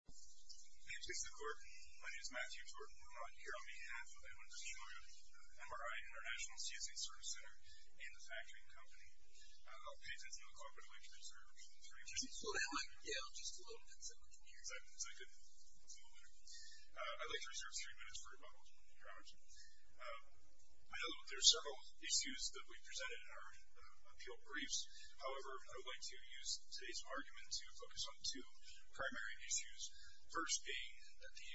My name is Matthew Jordan. I'm here on behalf of Edwin Fujinaga, MRI International, CSA Service Center, and the Factory & Company. I'll pay attention to the clock, but I'd like to reserve three minutes. Yeah, just a little bit so we can hear you. Exactly. Is that good? A little better. I'd like to reserve three minutes for rebuttal, Dr. Robertson. I know there are several issues that we presented in our appeal briefs. However, I would like to use today's argument to focus on two primary issues. First being that the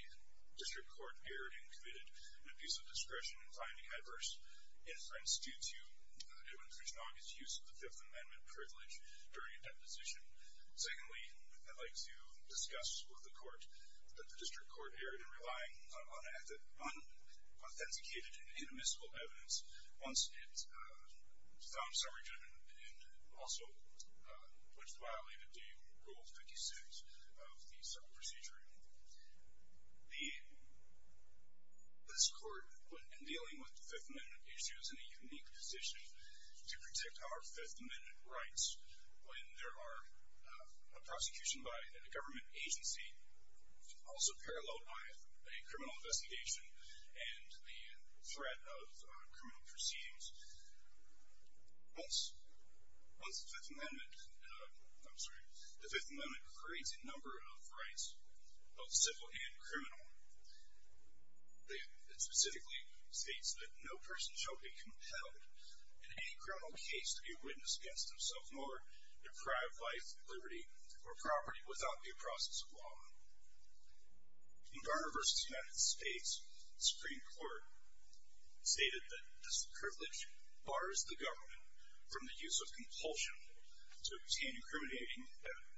district court erred and committed an abuse of discretion in finding adverse inference due to Edwin Fujinaga's use of the Fifth Amendment privilege during a deposition. Secondly, I'd like to discuss with the court that the district court erred in relying on unauthenticated and inadmissible evidence once it found summary judgment and also which violated Day Rule 56 of the civil procedure. This court, in dealing with the Fifth Amendment issues, is in a unique position to protect our Fifth Amendment rights when there are a prosecution by a government agency also paralleled by a criminal investigation and the threat of criminal proceedings. Once the Fifth Amendment creates a number of rights, both civil and criminal, it specifically states that no person shall be compelled in any criminal case to be a witness against himself nor deprive life, liberty, or property without due process of law. In Garner v. United States, the Supreme Court stated that this privilege bars the government from the use of compulsion to obtain incriminating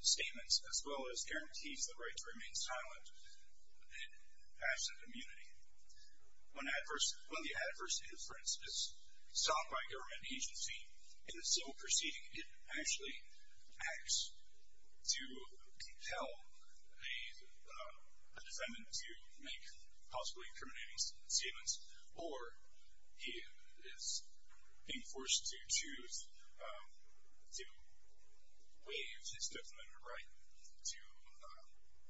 statements as well as guarantees the right to remain silent in absent immunity. When the adverse inference is sought by a government agency in a civil proceeding, it actually acts to compel a defendant to make possibly incriminating statements or he is being forced to choose to waive his Fifth Amendment right to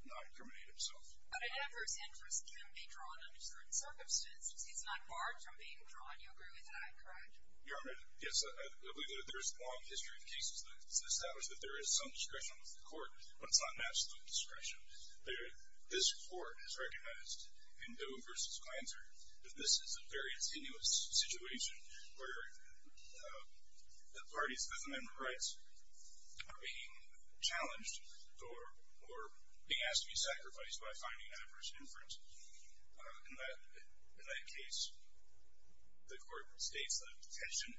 not incriminate himself. But an adverse inference can be drawn under certain circumstances. It's not barred from being drawn. You agree with that, correct? Your Honor, yes. I believe that there is a long history of cases that establish that there is some discretion with the court, but it's not an absolute discretion. This court has recognized in Doe v. Glanter that this is a very tenuous situation where the parties' Fifth Amendment rights are being challenged or being asked to be sacrificed by finding an adverse inference. In that case, the court states that the tension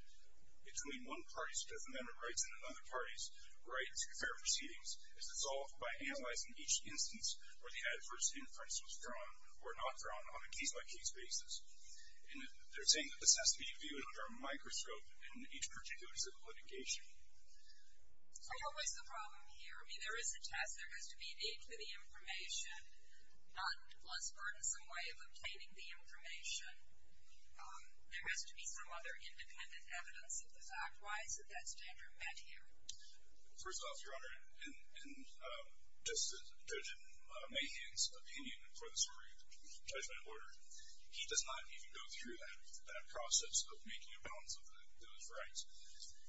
between one party's Fifth Amendment rights and another party's right to fair proceedings is resolved by analyzing each instance where the adverse inference was drawn or not drawn on a case-by-case basis. And they're saying that this has to be viewed under a microscope in each particular civil litigation. So what's the problem here? For me, there is a test. There has to be a need for the information, not a less burdensome way of obtaining the information. There has to be some other independent evidence of the fact-wise that that standard met here. First off, Your Honor, just judging Mahan's opinion for the Supreme Judgment Order, he does not even go through that process of making a balance of those rights.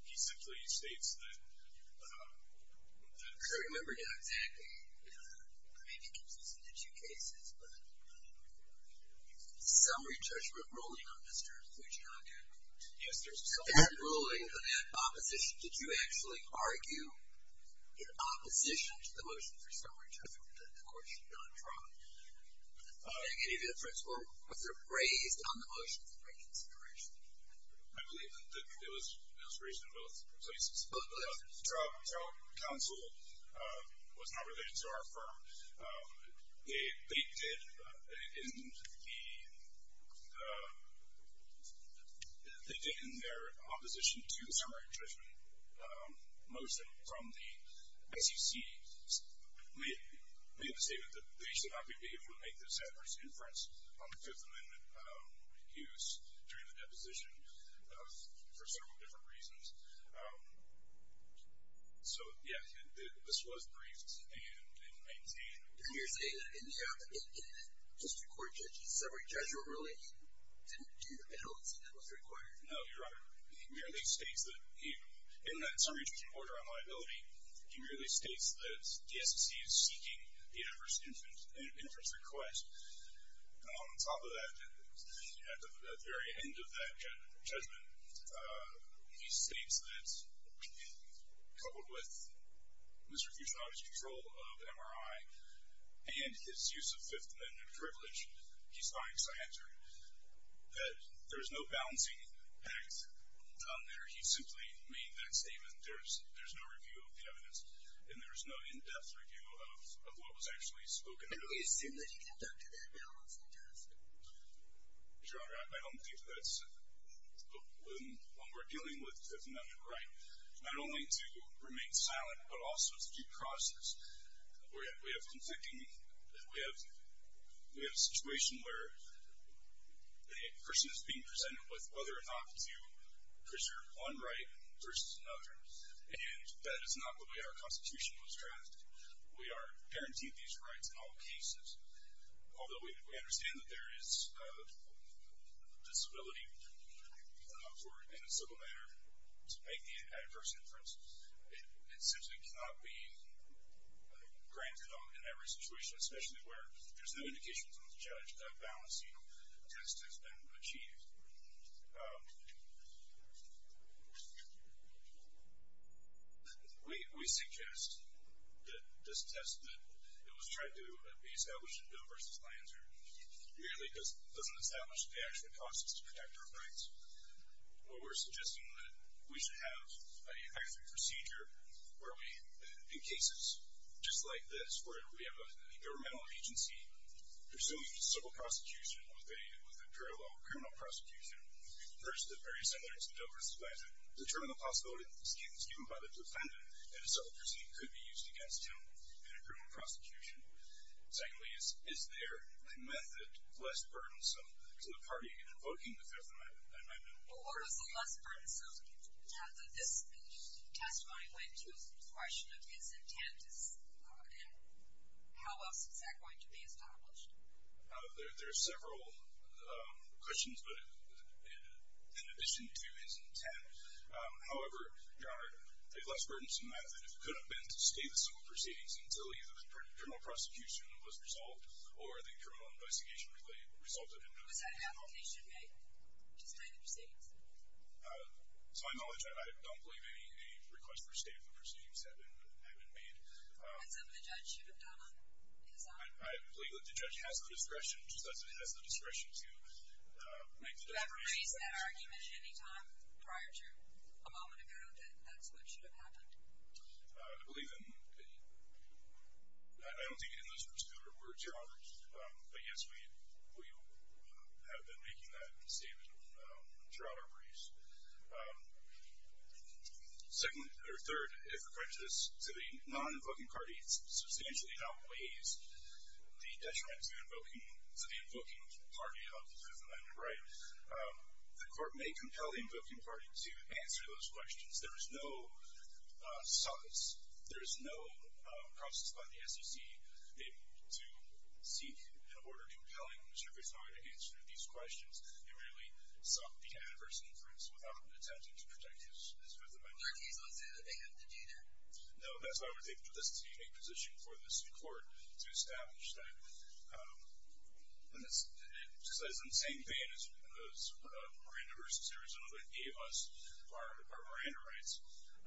He simply states that that's- I can't remember yet exactly. Maybe it comes up in a few cases. But summary judgment ruling on Mr. Fugin, I can't remember. Yes, there's- That ruling, that opposition, did you actually argue in opposition to the motion for summary judgment that the court should not draw? Did you make any difference, or was there a graze on the motion for reconsideration? I believe that it was an inspiration in both places. The trial counsel was not related to our firm. They did, in their opposition to the summary judgment motion from the SEC, made the statement that they should not be able to make this adverse inference on the Fifth Amendment use during the deposition for several different reasons. So, yes, this was briefed and maintained. And you're saying that in the Supreme Court judgment summary judgment ruling didn't do the balance that was required? No, Your Honor. He merely states that he- In the summary judgment order on liability, he merely states that the SEC is seeking the adverse inference request. And on top of that, at the very end of that judgment, he states that coupled with Mr. Fugin's control of MRI and his use of Fifth Amendment privilege, he finds, I answer, that there's no balancing act done there. He simply made that statement. There's no review of the evidence, and there's no in-depth review of what was actually spoken of. But we assume that he conducted that balance in-depth. Your Honor, I don't think that's- When we're dealing with Fifth Amendment right, not only to remain silent, but also to due process. We have conflicting- We have a situation where a person is being presented with whether or not to preserve one right versus another. And that is not the way our Constitution was drafted. We are guaranteed these rights in all cases. Although we understand that there is a disability in a civil matter to make the adverse inference, it simply cannot be granted in every situation, especially where there's no indication from the judge that a balancing test has been achieved. We suggest that this test that was tried to be established in Bill v. Lanser, merely because it doesn't establish the actual causes to protect our rights. We're suggesting that we should have an effective procedure where we, in cases just like this, where we have a governmental agency pursuing civil prosecution with a parallel criminal prosecution. First, the very similar instance of Bill v. Lanser. Determine the possibility given by the defendant that a civil proceeding could be used against him in a criminal prosecution. Secondly, is there a method less burdensome to the party in invoking the Fifth Amendment? Well, what is the less burdensome method? This testimony went to a question of his intent, and how else is that going to be established? There are several questions in addition to his intent. However, Your Honor, the less burdensome method could have been to stay the civil proceedings until either the criminal prosecution was resolved or the criminal investigation resulted in a criminal case. Was that application made to stay the proceedings? To my knowledge, I don't believe any request for stay of the proceedings have been made. And some of the judge should have done on his own? I believe that the judge has the discretion to make the determination. Did you ever raise that argument at any time prior to a moment ago that that's what should have happened? I don't think in this particular word, Your Honor. But yes, we have been making that statement throughout our briefs. Third, if referred to the non-invoking party substantially outweighs the detriment to the invoking party of the Fifth Amendment, right? The court may compel the invoking party to answer those questions. There is no process by the SEC to seek an order compelling Mr. Griswold to answer these questions and really be an adverse influence without attempting to protect his Fifth Amendment rights. Are these ones that they have to do that? No, that's why I would think that this is a unique position for this court to establish. It's the same thing as Miranda v. Arizona that gave us our Miranda rights.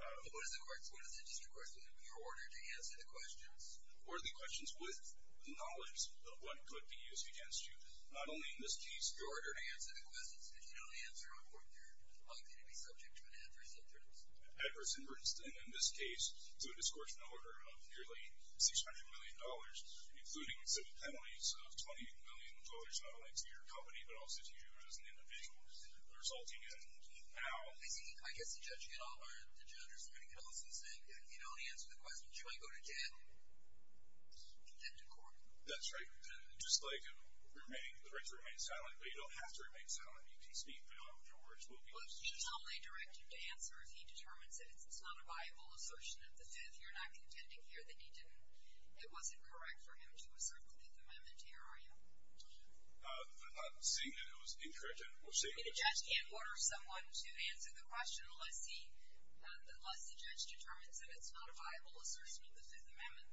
What is the district court's order to answer the questions? Order the questions with the knowledge of what could be used against you. Not only in this case. Your order to answer the questions. If you don't answer them, you're likely to be subject to an adverse influence. Adverse influence, in this case, to a discouragement order of nearly $600 million, including civil penalties of $20 million, not only to your company, but also to you as an individual. The result, again, now... I guess the judge, you know, or the judge or somebody could also say, if you don't answer the questions, you might go to jail and get to court. That's right. Just like the right to remain silent, but you don't have to remain silent. You can speak. Your words will be used. Well, he's only directed to answer if he determines that it's not a viable assertion of the Fifth. You're not contending here that he didn't... it wasn't correct for him to assert the Fifth Amendment here, are you? Not saying that it was incorrect or saying that it was incorrect. The judge can't order someone to answer the question unless he... unless the judge determines that it's not a viable assertion of the Fifth Amendment.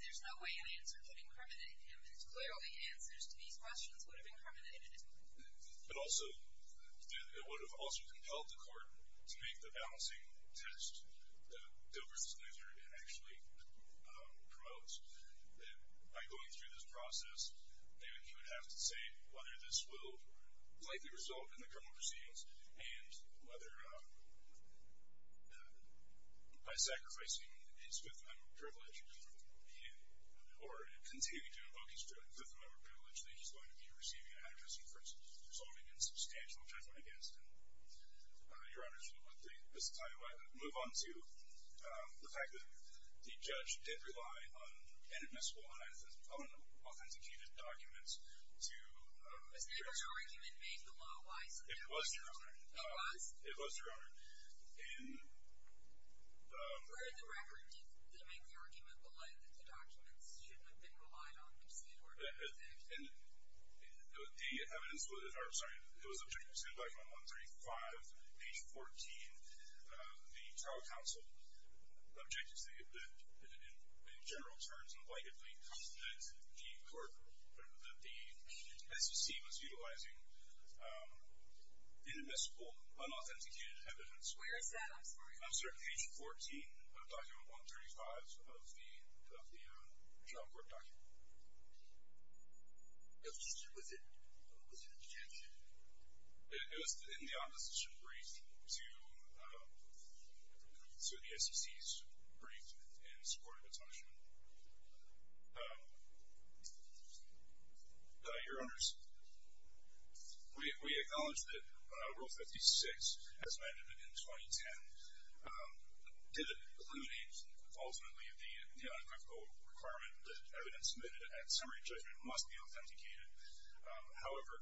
There's no way an answer could incriminate him, and clearly answers to these questions would have incriminated him. But also, it would have also compelled the court to make the balancing test that Dilbert's measure actually promotes. By going through this process, he would have to say whether this will likely result in the criminal proceedings and whether by sacrificing his Fifth Amendment privilege or continuing to invoke his Fifth Amendment privilege that he's going to be receiving an adjustment for resolving in substantial judgment against him. Your Honor, should we move on to the fact that the judge did rely on inadmissible, unauthenticated documents to... Was Dilbert's argument made the law wise? It was, Your Honor. It was? It was, Your Honor. And... Where in the record did they make the argument below that the documents shouldn't have been relied on? And the evidence would have... I'm sorry. It was objected to in Document 135, page 14. The trial counsel objected to the... In general terms, and blatantly, that the court... That the SEC was utilizing inadmissible, unauthenticated evidence. Where is that? I'm sorry. I'm sorry. Page 14 of Document 135 of the trial court document. Was it... Was it objected to? It was in the ombudsman's brief to the SEC's brief in support of the punishment. Your Honors, we acknowledge that Rule 56 as amended in 2010 did eliminate, ultimately, the unethical requirement that evidence submitted at summary judgment must be authenticated. However,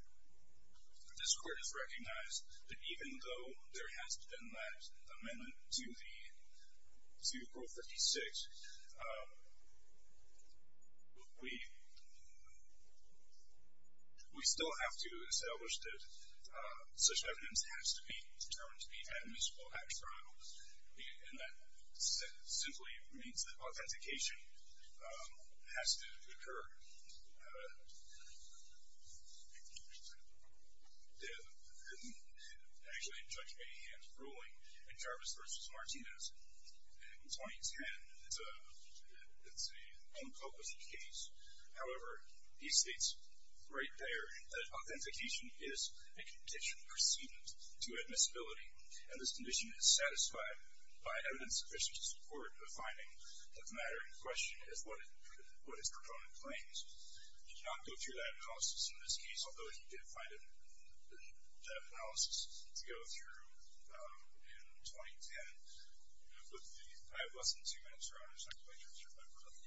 this Court has recognized that even though there has been that amendment to the... To Rule 56, we... We still have to establish that such evidence has to be determined to be inadmissible at a trial. And that simply means that authentication has to occur. Actually, in Judge Mahan's ruling in Jarvis v. Martinez in 2010, it's an unpublished case. However, he states right there that authentication is a condition pursuant to admissibility, and this condition is satisfied by evidence sufficient to support the finding of matter in question as what its proponent claims. He did not go through that analysis in this case, although he did find that analysis to go through in 2010. I have less than two minutes, Your Honors. I'm going to turn it over to my brother.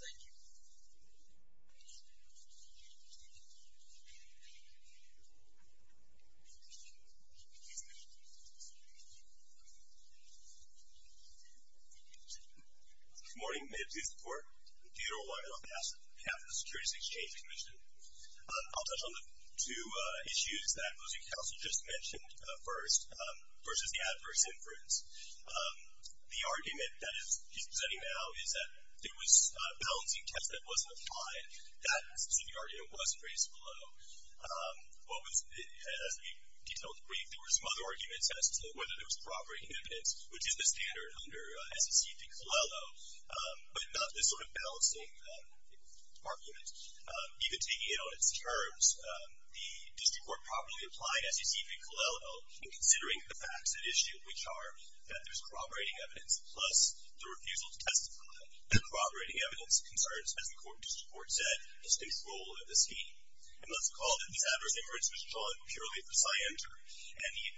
Thank you. Good morning. My name is Ethan Ford. I'm the funeral lawyer on behalf of the Securities Exchange Commission. I'll touch on the two issues that Losing Counsel just mentioned first. First is the adverse inference. The argument that he's presenting now is that there was a balancing test that wasn't applied. That specific argument wasn't raised below. As we detailed briefly, there were some other arguments as to whether there was proper inhibitants, which is the standard under SEC v. Colello, but not this sort of balancing argument. Even taking it on its terms, the district court probably applied SEC v. Colello in considering the facts at issue, which are that there's corroborating evidence, plus the refusal to testify. The corroborating evidence concerns, as the court said, his control of the scheme. And let's call it that this adverse inference was drawn purely for scienter, and the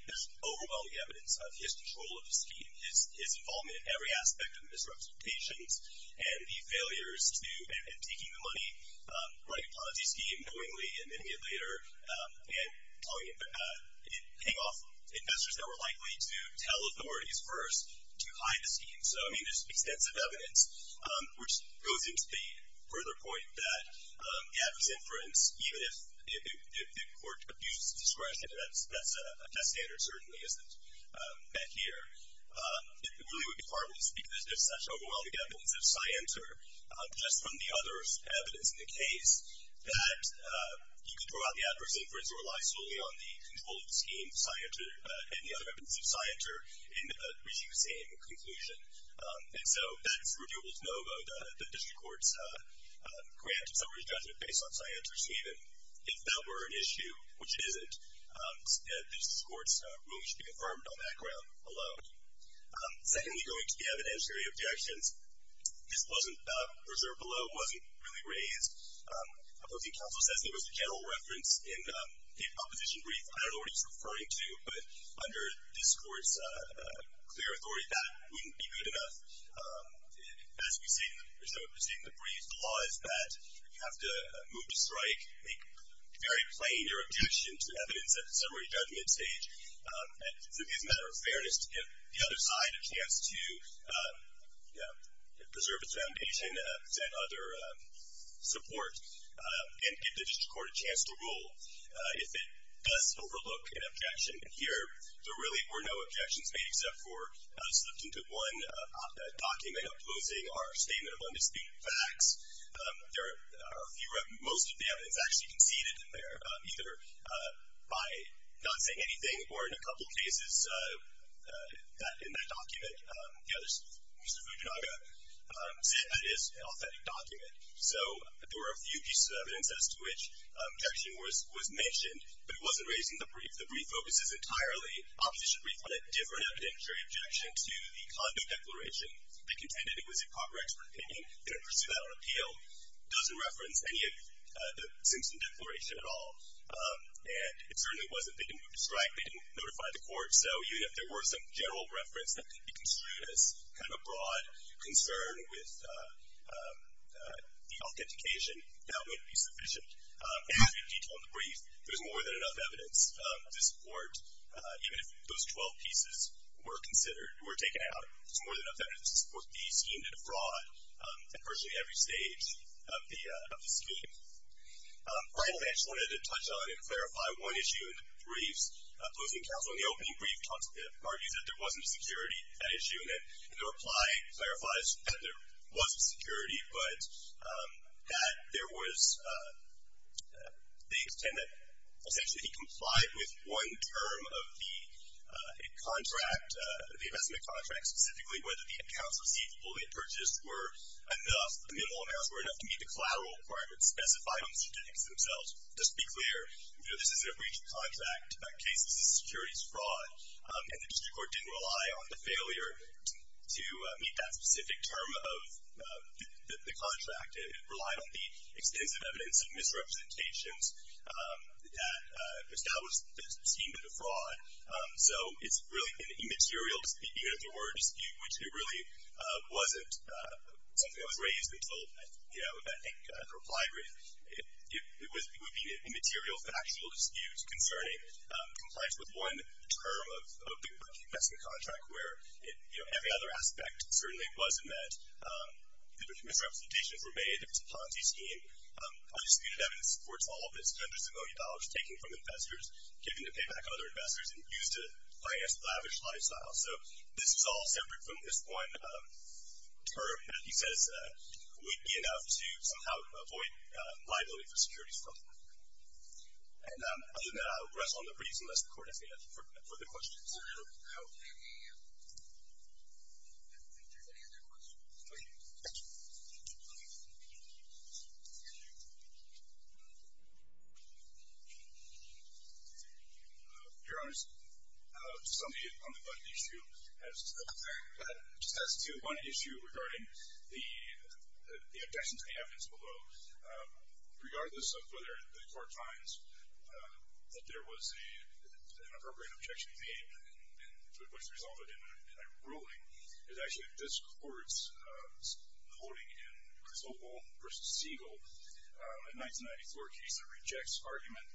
overwhelming evidence of his control of the scheme, his involvement in every aspect of the misrepresentations, and the failures in taking the money, running a policy scheme knowingly, and then later paying off investors that were likely to tell authorities first to hide the scheme. So, I mean, there's extensive evidence, which goes into the further point that adverse inference, even if the court abuses discretion, that's a test standard, certainly, isn't met here. It really would be hard for me to speak to such overwhelming evidence of scienter, just from the other evidence in the case, that you can draw out the adverse inference that relies solely on the control of the scheme, scienter, and the other evidence of scienter, in reaching the same conclusion. And so that's renewable to no vote. The district court's grant of summary judgment based on scienter's statement, if that were an issue, which it isn't, the district court's ruling should be confirmed on that ground alone. Secondly, going to the evidentiary objections, this wasn't reserved below, wasn't really raised. I believe counsel says there was a general reference in the opposition brief I don't know what he's referring to, but under this court's clear authority, that wouldn't be good enough. As we see in the brief, the law is that you have to move to strike, make very plain your objection to evidence at the summary judgment stage, and, as a matter of fairness, give the other side a chance to preserve its foundation, present other support, and give the district court a chance to rule. If it does overlook an objection here, there really were no objections made except for a substantive one, a document opposing our statement of undisputed facts. There are a few, most of the evidence actually conceded there, either by not saying anything or, in a couple of cases, in that document, Mr. Fujinaga said that is an authentic document. So there were a few pieces of evidence as to which objection was mentioned, but it wasn't raised in the brief. The brief focuses entirely, opposition brief, on a different evidentiary objection to the Condon Declaration. They contended it was improper expert opinion. They didn't pursue that on appeal. It doesn't reference any of the Simpson Declaration at all, and it certainly wasn't that they didn't move to strike. They didn't notify the court. So even if there were some general reference that could be construed as kind of a broad concern with the authentication, that may not be sufficient. In every detail in the brief, there's more than enough evidence to support, even if those 12 pieces were considered, were taken out, there's more than enough evidence to support the scheme to defraud virtually every stage of the scheme. Finally, I just wanted to touch on and clarify one issue in the briefs. Closing counsel in the opening brief argues that there wasn't a security issue, and the reply clarifies that there was a security, but that there was the extent that essentially he complied with one term of the contract, the investment contract, and specifically whether the accounts receivable he had purchased were enough, the minimal amounts were enough to meet the collateral requirements specified in the statistics themselves. Just to be clear, this is a breach of contract case, this is securities fraud, and the district court didn't rely on the failure to meet that specific term of the contract. It relied on the extensive evidence of misrepresentations that established the scheme to defraud. So it's really an immaterial dispute, even if the word dispute, which it really wasn't something that was raised until, I think, the reply brief. It would be an immaterial, factual dispute concerning compliance with one term of the investment contract where every other aspect certainly wasn't met. The misrepresentations were made, it was a Ponzi scheme. All the disputed evidence supports all of this, hundreds of millions of dollars taken from investors, given to pay back other investors, and used to finance lavish lifestyles. So this is all separate from this one term that he says would be enough to somehow avoid liability for securities fraud. And other than that, I will rest on the briefs unless the court has any further questions. I don't think there's any other questions. Thank you. Your Honor, just on the budget issue, it just has two. One issue regarding the objections to the evidence below, regardless of whether the court finds that there was an appropriate objection which resulted in a ruling, is actually this court's holding in Griswold v. Siegel, a 1994 case that rejects argument,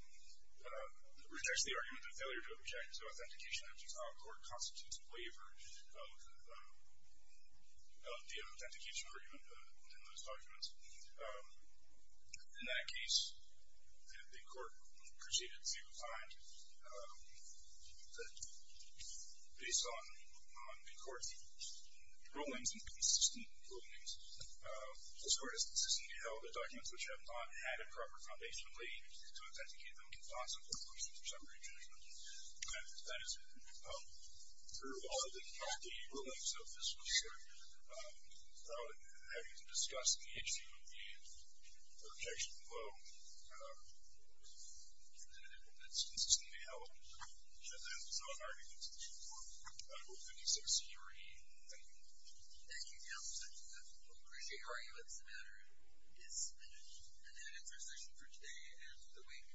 rejects the argument of failure to object to authentication, which is how a court constitutes waiver of the authentication argument in those documents. In that case, the court proceeded to find that based on the court's rulings and consistent rulings, this court has consistently held that documents which have not had a proper foundationally to authenticate them do not support questions or summary judgments. And that is true of all of the rulings of this case, without having to discuss the issue of the objection below. And that's just the way it happened. And that is all I have to get to the court. I don't have anything else to say, Your Honor. Thank you. Thank you, Your Honor. We appreciate your argument. This matter is finished. And that is our session for today and the week.